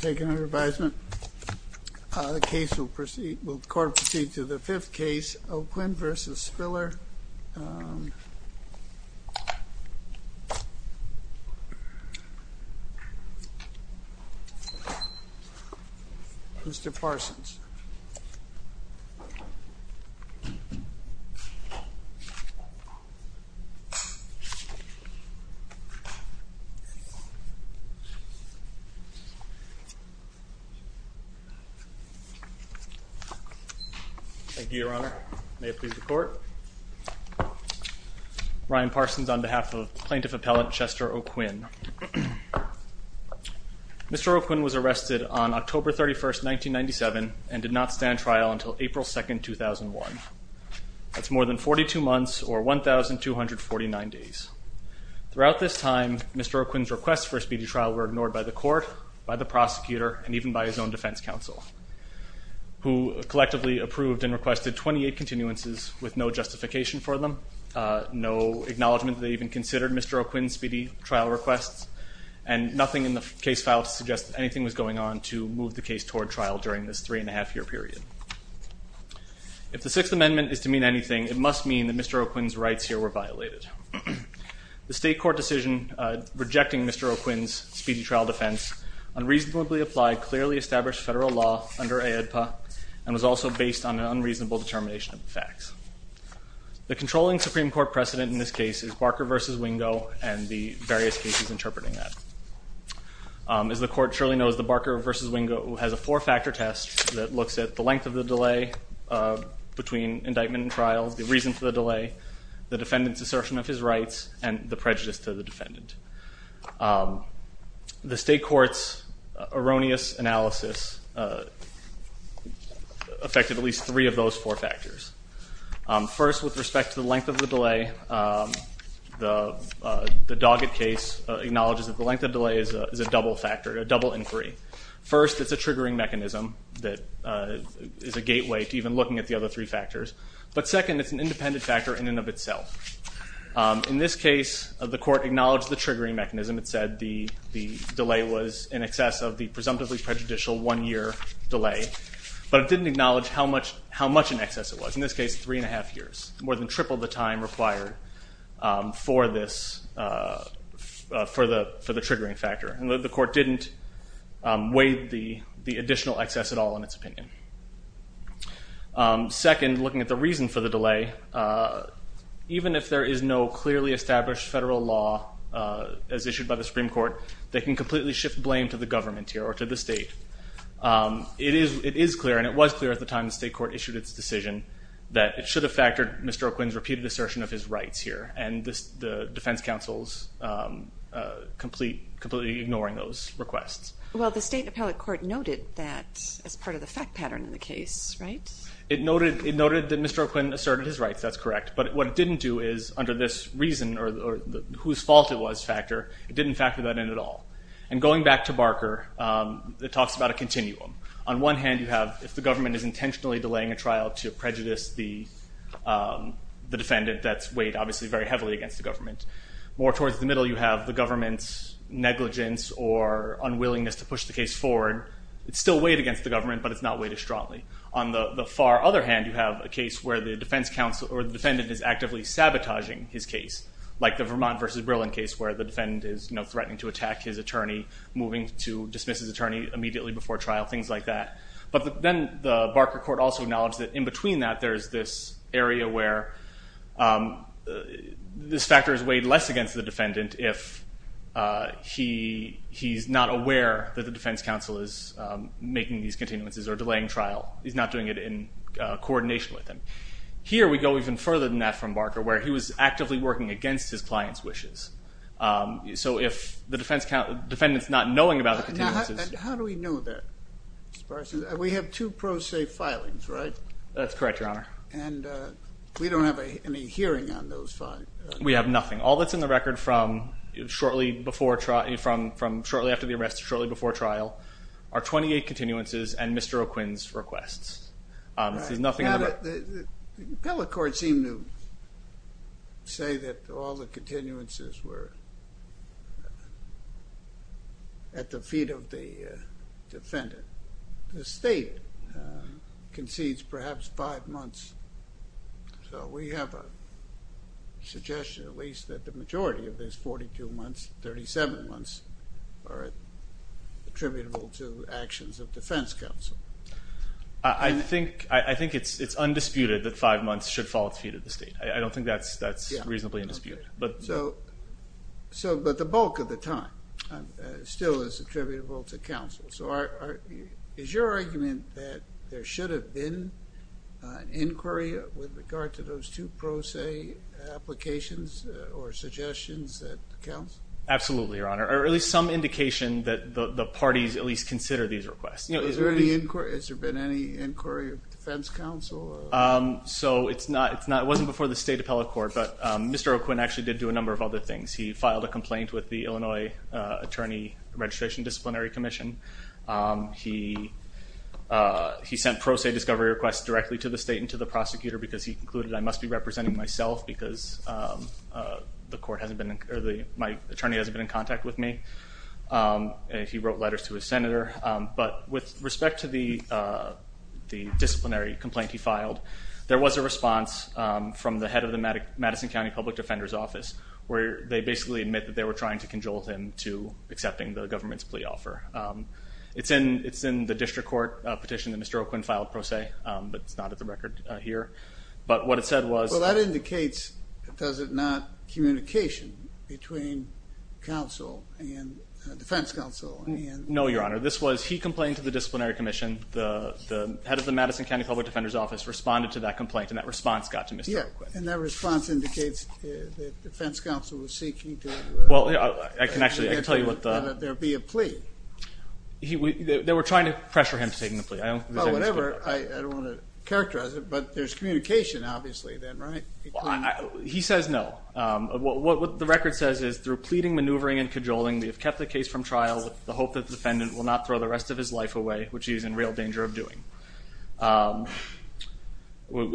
Taking under advisement, the court will proceed to the fifth case, O'Quinn v. Spiller, Mr. Parsons. Thank you, Your Honor. May it please the court. Ryan Parsons on behalf of Plaintiff Appellant Chester O'Quinn. Mr. O'Quinn was arrested on October 31st, 1997 and did not stand trial until April 2nd, 2001. That's more than 42 months, or 1,249 days. Throughout this time, Mr. O'Quinn's requests for a speedy trial were ignored by the court, by the prosecutor, and even by his own defense counsel, who collectively approved and requested 28 continuances with no justification for them, no acknowledgement that they even considered Mr. O'Quinn's speedy trial requests, and nothing in the case file to suggest that anything was going on to move the case toward trial during this three-and-a-half-year period. If the Sixth Amendment is to mean anything, it must mean that Mr. O'Quinn's rights here were violated. The state court decision rejecting Mr. O'Quinn's speedy trial defense unreasonably applied clearly established federal law under AEDPA and was also based on an unreasonable determination of the facts. The controlling Supreme Court precedent in this case is Barker v. Wingo and the various cases interpreting that. As the court surely knows, the Barker v. Wingo has a four-factor test that looks at the length of the delay between indictment and trial, the reason for the delay, the defendant's assertion of his rights, and the prejudice to the defendant. The state court's erroneous analysis affected at least three of those four factors. First, with respect to the length of the delay, the Doggett case acknowledges that the length of delay is a double factor, a double inquiry. First, it's a triggering mechanism that is a gateway to even looking at the other three factors. But second, it's an independent factor in and of itself. In this case, the court acknowledged the triggering mechanism. It said the delay was in excess of the presumptively prejudicial one-year delay, but it didn't acknowledge how much in excess it was. In this case, three and a half years, more than triple the time required for the triggering factor. The court didn't weigh the additional excess at all in its opinion. Second, looking at the reason for the delay, even if there is no clearly established federal law as issued by the Supreme Court, they can completely shift blame to the government here or to the state. It is clear, and it was clear at the time the state court issued its decision, that it should have factored Mr. O'Quinn's repeated assertion of his rights here, and the defense counsel's completely ignoring those requests. Well, the state appellate court noted that as part of the fact pattern in the case, right? It noted that Mr. O'Quinn asserted his rights. That's correct. But what it didn't do is, under this reason or whose fault it was factor, it didn't factor that in at all. And going back to Barker, it talks about a continuum. On one hand, you have if the government is intentionally delaying a trial to prejudice the defendant, that's weighed obviously very heavily against the government. More towards the middle, you have the government's negligence or unwillingness to push the case forward. It's still weighed against the government, but it's not weighed as strongly. On the far other hand, you have a case where the defendant is actively sabotaging his case, like the Vermont v. Brillen case where the defendant is threatening to attack his attorney, moving to dismiss his attorney immediately before trial, things like that. But then the Barker court also acknowledged that in between that, there is this area where this factor is weighed less against the defendant if he's not aware that the defense counsel is making these continuances or delaying trial. He's not doing it in coordination with them. Here we go even further than that from Barker where he was actively working against his client's wishes. So if the defendant's not knowing about the continuances. How do we know that? We have two pro se filings, right? That's correct, Your Honor. And we don't have any hearing on those filings? We have nothing. All that's in the record from shortly after the arrest to shortly before trial are 28 continuances and Mr. O'Quinn's requests. The appellate court seemed to say that all the continuances were at the feet of the defendant. The state concedes perhaps five months. So we have a suggestion at least that the majority of these 42 months, 37 months, are attributable to actions of defense counsel. I think it's undisputed that five months should fall at the feet of the state. I don't think that's reasonably undisputed. But the bulk of the time still is attributable to counsel. So is your argument that there should have been an inquiry with regard to those two pro se applications or suggestions that counsel? Absolutely, Your Honor. Or at least some indication that the parties at least consider these requests. Has there been any inquiry of defense counsel? So it wasn't before the state appellate court. But Mr. O'Quinn actually did do a number of other things. He filed a complaint with the Illinois Attorney Registration Disciplinary Commission. He sent pro se discovery requests directly to the state and to the prosecutor because he concluded I must be representing myself because my attorney hasn't been in contact with me. And he wrote letters to his senator. But with respect to the disciplinary complaint he filed, there was a response from the head of the Madison County Public Defender's Office where they basically admit that they were trying to conjole him to accepting the government's plea offer. It's in the district court petition that Mr. O'Quinn filed pro se, but it's not at the record here. But what it said was- Well, that indicates, does it not, communication between counsel and defense counsel? No, Your Honor. This was he complained to the disciplinary commission. The head of the Madison County Public Defender's Office responded to that complaint, and that response got to Mr. O'Quinn. And that response indicates the defense counsel was seeking to- Well, I can actually tell you what the- There be a plea. They were trying to pressure him to take the plea. I don't- Well, whatever. I don't want to characterize it, but there's communication obviously then, right? He says no. What the record says is through pleading, maneuvering, and cajoling, we have kept the case from trial with the hope that the defendant will not throw the rest of his life away, which he is in real danger of doing.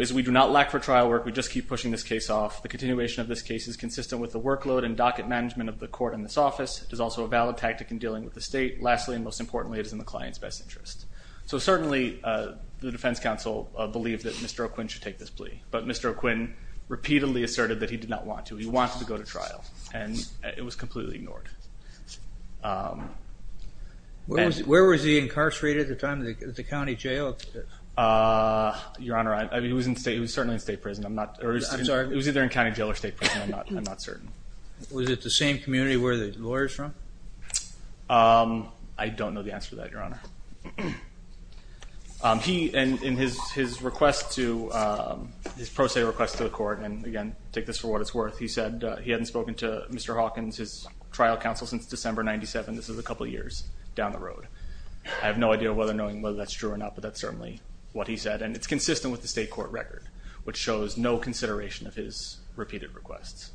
As we do not lack for trial work, we just keep pushing this case off. The continuation of this case is consistent with the workload and docket management of the court in this office. It is also a valid tactic in dealing with the state. Lastly, and most importantly, it is in the client's best interest. So certainly the defense counsel believed that Mr. O'Quinn should take this plea, but Mr. O'Quinn repeatedly asserted that he did not want to. He wanted to go to trial, and it was completely ignored. Where was he incarcerated at the time? Was it the county jail? Your Honor, he was certainly in state prison. I'm sorry? He was either in county jail or state prison. I'm not certain. Was it the same community where the lawyer is from? I don't know the answer to that, Your Honor. In his pro se request to the court, and again, take this for what it's worth, he said he hadn't spoken to Mr. Hawkins, his trial counsel, since December 1997. This is a couple of years down the road. I have no idea whether or not that's true or not, but that's certainly what he said. And it's consistent with the state court record, which shows no consideration of his repeated requests.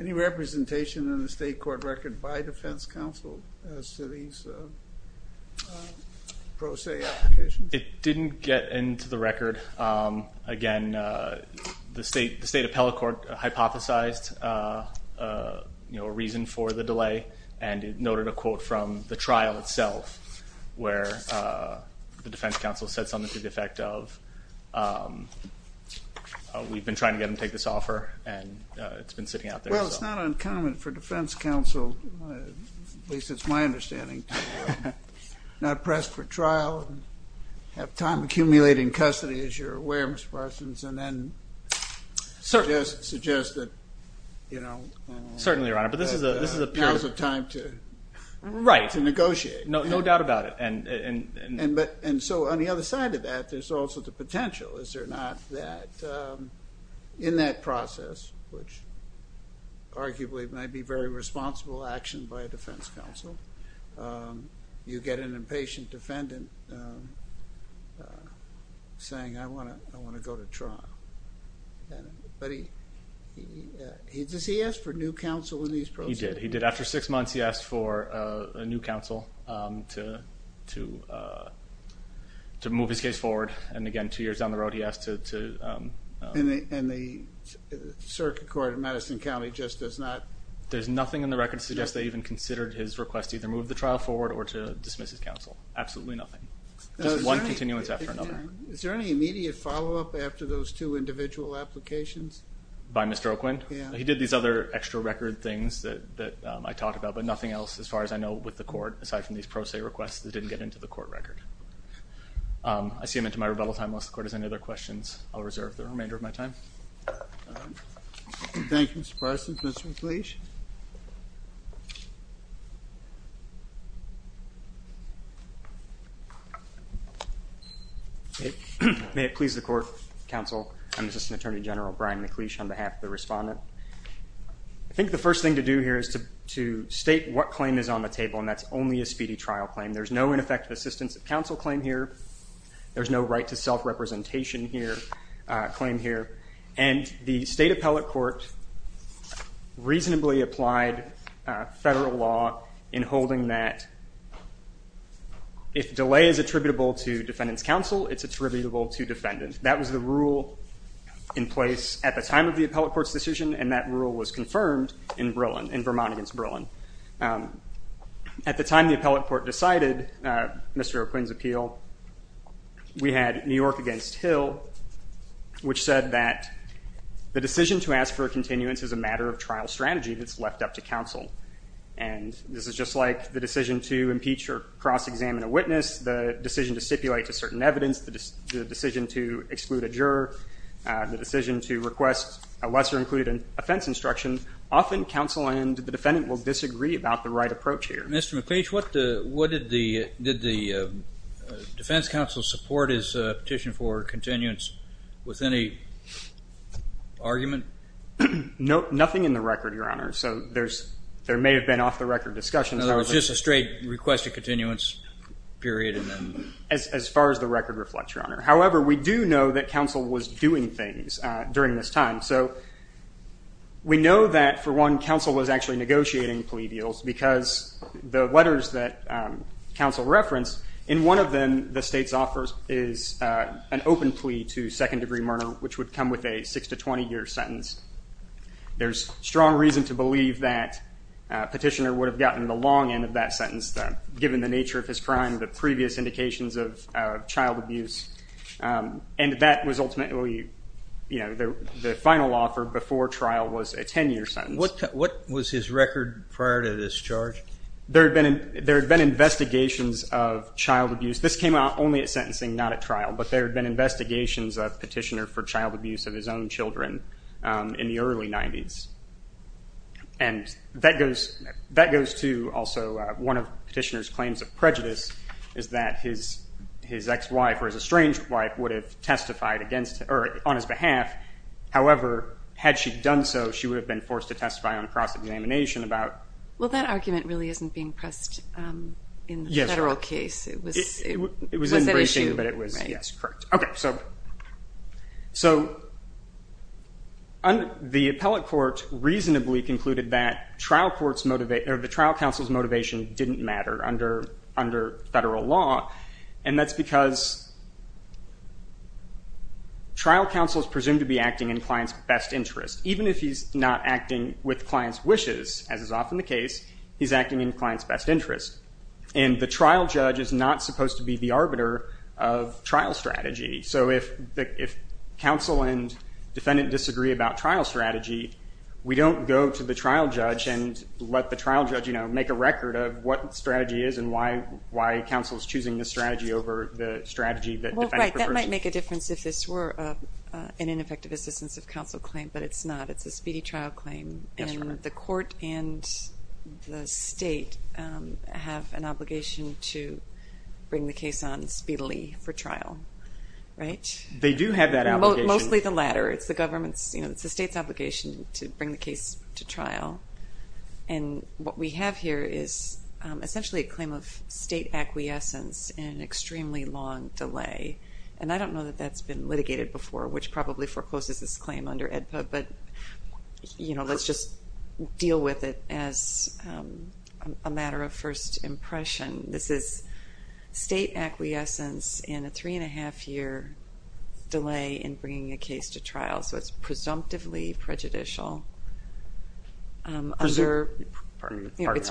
Any representation in the state court record by defense counsel as to these pro se applications? It didn't get into the record. Again, the State Appellate Court hypothesized a reason for the delay, and it noted a quote from the trial itself where the defense counsel said something to the effect of, we've been trying to get him to take this offer, and it's been sitting out there. Well, it's not uncommon for defense counsel, at least it's my understanding, to not press for trial and have time accumulating custody, as you're aware, Mr. Parsons, and then suggest that there's a period of time to negotiate. Right. No doubt about it. And so on the other side of that, there's also the potential, is there not, that in that process, which arguably might be very responsible action by a defense counsel, you get an impatient defendant saying, I want to go to trial. But does he ask for new counsel in these proceedings? He did. After six months, he asked for a new counsel to move his case forward, and again, two years down the road, he asked to. And the Circuit Court of Madison County just does not. There's nothing in the record to suggest they even considered his request to either move the trial forward or to dismiss his counsel. Absolutely nothing. Just one continuance after another. Is there any immediate follow-up after those two individual applications? By Mr. Oquin? Yeah. He did these other extra record things that I talked about, but nothing else as far as I know with the court aside from these pro se requests that didn't get into the court record. I see I'm into my rebuttal time. Unless the court has any other questions, I'll reserve the remainder of my time. Thank you, Mr. Parsons. Mr. McLeish? May it please the court, counsel, I'm Assistant Attorney General Brian McLeish on behalf of the respondent. I think the first thing to do here is to state what claim is on the table, and that's only a speedy trial claim. There's no ineffective assistance of counsel claim here. There's no right to self-representation claim here. And the state appellate court reasonably applied federal law in holding that if delay is attributable to defendant's counsel, it's attributable to defendant. That was the rule in place at the time of the appellate court's decision, and that rule was confirmed in Vermont against Berlin. At the time the appellate court decided Mr. O'Quinn's appeal, we had New York against Hill, which said that the decision to ask for a continuance is a matter of trial strategy that's left up to counsel. And this is just like the decision to impeach or cross-examine a witness, the decision to stipulate to certain evidence, the decision to exclude a juror, the decision to request a lesser included offense instruction. Often counsel and the defendant will disagree about the right approach here. Mr. McLeish, what did the defense counsel support his petition for continuance with any argument? Nothing in the record, Your Honor. So there may have been off-the-record discussions. It was just a straight request a continuance period. As far as the record reflects, Your Honor. However, we do know that counsel was doing things during this time. So we know that, for one, counsel was actually negotiating plea deals because the letters that counsel referenced, in one of them the state's offers is an open plea to second-degree murder, which would come with a six- to 20-year sentence. There's strong reason to believe that petitioner would have gotten the long end of that sentence, given the nature of his crime, the previous indications of child abuse. And that was ultimately the final offer before trial was a 10-year sentence. What was his record prior to this charge? There had been investigations of child abuse. This came out only at sentencing, not at trial. But there had been investigations of petitioner for child abuse of his own children in the early 90s. And that goes to also one of petitioner's claims of prejudice, is that his ex-wife or his estranged wife would have testified on his behalf. However, had she done so, she would have been forced to testify on cross-examination about. Well, that argument really isn't being pressed in the federal case. It was that issue. Yes, correct. Okay, so the appellate court reasonably concluded that the trial counsel's motivation didn't matter under federal law. And that's because trial counsel is presumed to be acting in client's best interest. Even if he's not acting with client's wishes, as is often the case, he's acting in client's best interest. And the trial judge is not supposed to be the arbiter of trial strategy. So if counsel and defendant disagree about trial strategy, we don't go to the trial judge and let the trial judge make a record of what strategy is and why counsel is choosing this strategy over the strategy that defendant prefers. Well, right. That might make a difference if this were an ineffective assistance of counsel claim. But it's not. It's a speedy trial claim. Yes, correct. And the court and the state have an obligation to bring the case on speedily for trial, right? They do have that obligation. Mostly the latter. It's the state's obligation to bring the case to trial. And what we have here is essentially a claim of state acquiescence in an extremely long delay. And I don't know that that's been litigated before, which probably forecloses this claim under AEDPA. But let's just deal with it as a matter of first impression. This is state acquiescence in a three and a half year delay in bringing a case to trial. So it's presumptively prejudicial. It's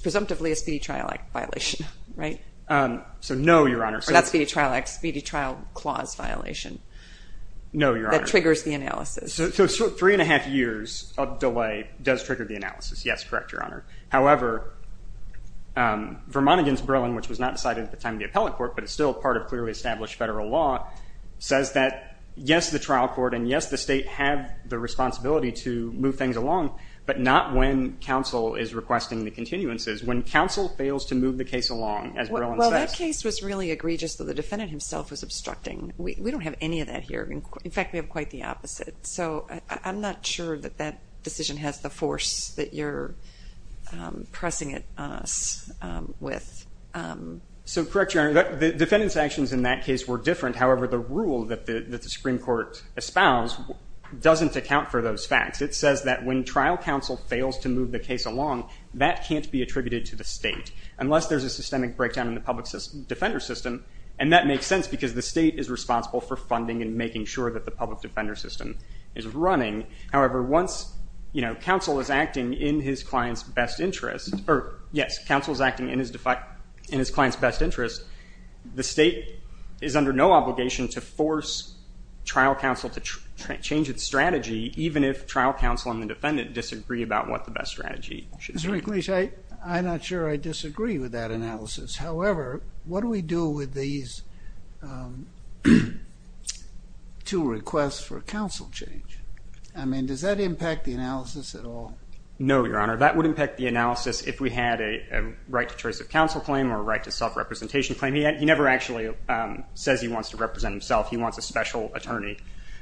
presumptively a speedy trial violation, right? So no, Your Honor. That's a speedy trial clause violation. No, Your Honor. That triggers the analysis. So three and a half years of delay does trigger the analysis. Yes, correct, Your Honor. However, Vermont against Berlin, which was not decided at the time of the appellate court, but it's still part of clearly established federal law, says that, yes, the trial court and, yes, the state have the responsibility to move things along, but not when counsel is requesting the continuances. When counsel fails to move the case along, as Berlin says. Well, that case was really egregious, though the defendant himself was obstructing. We don't have any of that here. In fact, we have quite the opposite. So I'm not sure that that decision has the force that you're pressing it on us with. So correct, Your Honor. The defendant's actions in that case were different. However, the rule that the Supreme Court espoused doesn't account for those facts. It says that when trial counsel fails to move the case along, that can't be attributed to the state, unless there's a systemic breakdown in the public defender system. And that makes sense because the state is responsible for funding and making sure that the public defender system is running. However, once counsel is acting in his client's best interest, or, yes, counsel is acting in his client's best interest, the state is under no obligation to force trial counsel to change its strategy, even if trial counsel and the defendant disagree about what the best strategy should be. Mr. McLeish, I'm not sure I disagree with that analysis. However, what do we do with these two requests for counsel change? I mean, does that impact the analysis at all? No, Your Honor. That would impact the analysis if we had a right to choice of counsel claim or a right to self-representation claim. He never actually says he wants to represent himself. He wants a special attorney.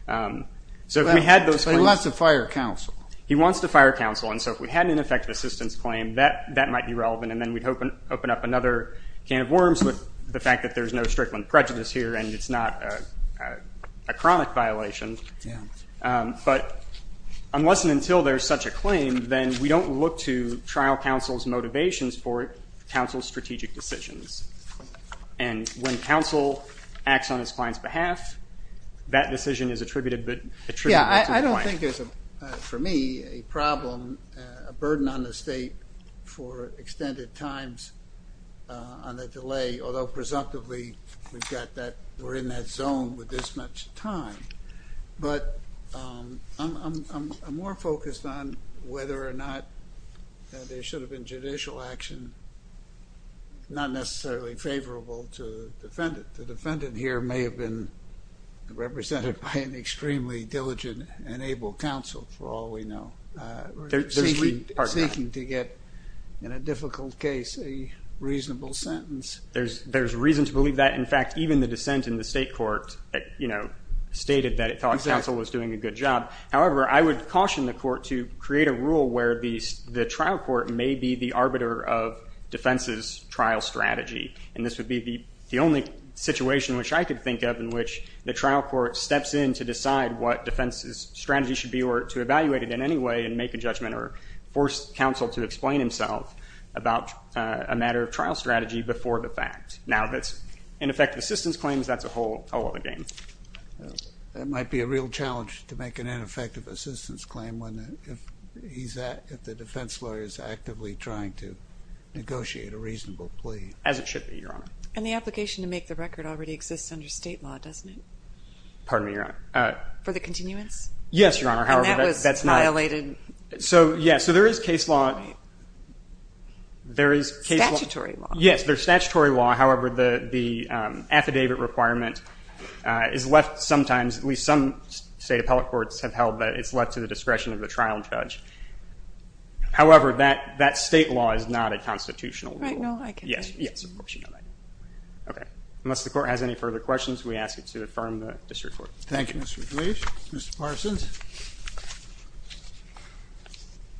So if we had those claims He wants to fire counsel. He wants to fire counsel. And so if we had an ineffective assistance claim, that might be relevant. And then we'd open up another can of worms with the fact that there's no strickland prejudice here and it's not a chronic violation. But unless and until there's such a claim, then we don't look to trial counsel's motivations for counsel's strategic decisions. And when counsel acts on his client's behalf, that decision is attributed to the client. I don't think there's, for me, a problem, a burden on the state for extended times on the delay, although presumptively we've got that, we're in that zone with this much time. But I'm more focused on whether or not there should have been judicial action. Not necessarily favorable to defendant. The defendant here may have been represented by an extremely diligent and able counsel, for all we know. Seeking to get, in a difficult case, a reasonable sentence. There's reason to believe that. In fact, even the dissent in the state court stated that it thought counsel was doing a good job. However, I would caution the court to create a rule where the trial court may be the arbiter of defense's trial strategy. And this would be the only situation which I could think of in which the defendant's strategy should be to evaluate it in any way and make a judgment or force counsel to explain himself about a matter of trial strategy before the fact. Now, if it's ineffective assistance claims, that's a whole other game. That might be a real challenge to make an ineffective assistance claim if the defense lawyer is actively trying to negotiate a reasonable plea. As it should be, Your Honor. And the application to make the record already exists under state law, doesn't it? Pardon me, Your Honor. For the continuous? Yes, Your Honor. However, that's not. And that was violated? So, yes. So there is case law. Statutory law. Yes, there's statutory law. However, the affidavit requirement is left sometimes, at least some state appellate courts have held that it's left to the discretion of the trial judge. However, that state law is not a constitutional rule. Right. No, I can understand. Yes. Yes. Of course you know that. Okay. Unless the court has any further questions, we ask you to affirm the district court. Thank you, Mr. McLeish. Mr. Parsons.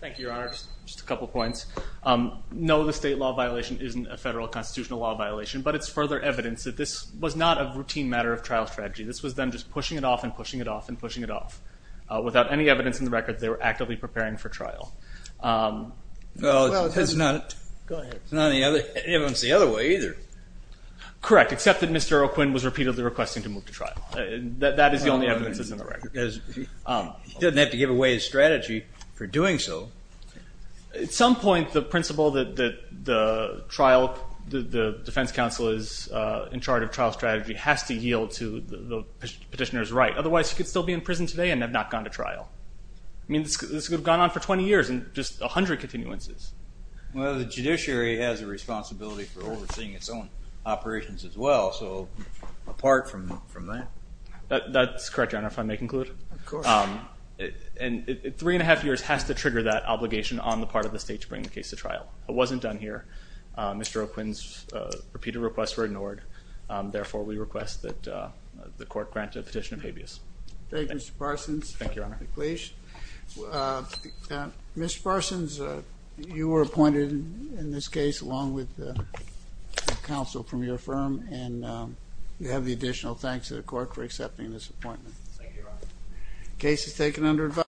Thank you, Your Honor. Just a couple points. No, the state law violation isn't a federal constitutional law violation, but it's further evidence that this was not a routine matter of trial strategy. This was them just pushing it off and pushing it off and pushing it off. Without any evidence in the record, they were actively preparing for trial. Well, it's not. Go ahead. It's not the other way either. Correct. Except that Mr. O'Quinn was repeatedly requesting to move to trial. That is the only evidence that's in the record. He doesn't have to give away his strategy for doing so. At some point, the principle that the defense counsel is in charge of trial strategy has to yield to the petitioner's right. Otherwise, he could still be in prison today and have not gone to trial. I mean, this could have gone on for 20 years and just 100 continuances. Well, the judiciary has a responsibility for overseeing its own operations as well, so apart from that. That's correct, Your Honor, if I may conclude. Of course. Three and a half years has to trigger that obligation on the part of the state to bring the case to trial. It wasn't done here. Mr. O'Quinn's repeated requests were ignored. Therefore, we request that the court grant a petition of habeas. Thank you, Mr. Parsons. Thank you, Your Honor. Please. Mr. Parsons, you were appointed in this case along with the counsel from your firm, and we have the additional thanks to the court for accepting this appointment. Thank you, Your Honor. The case is taken under advisory.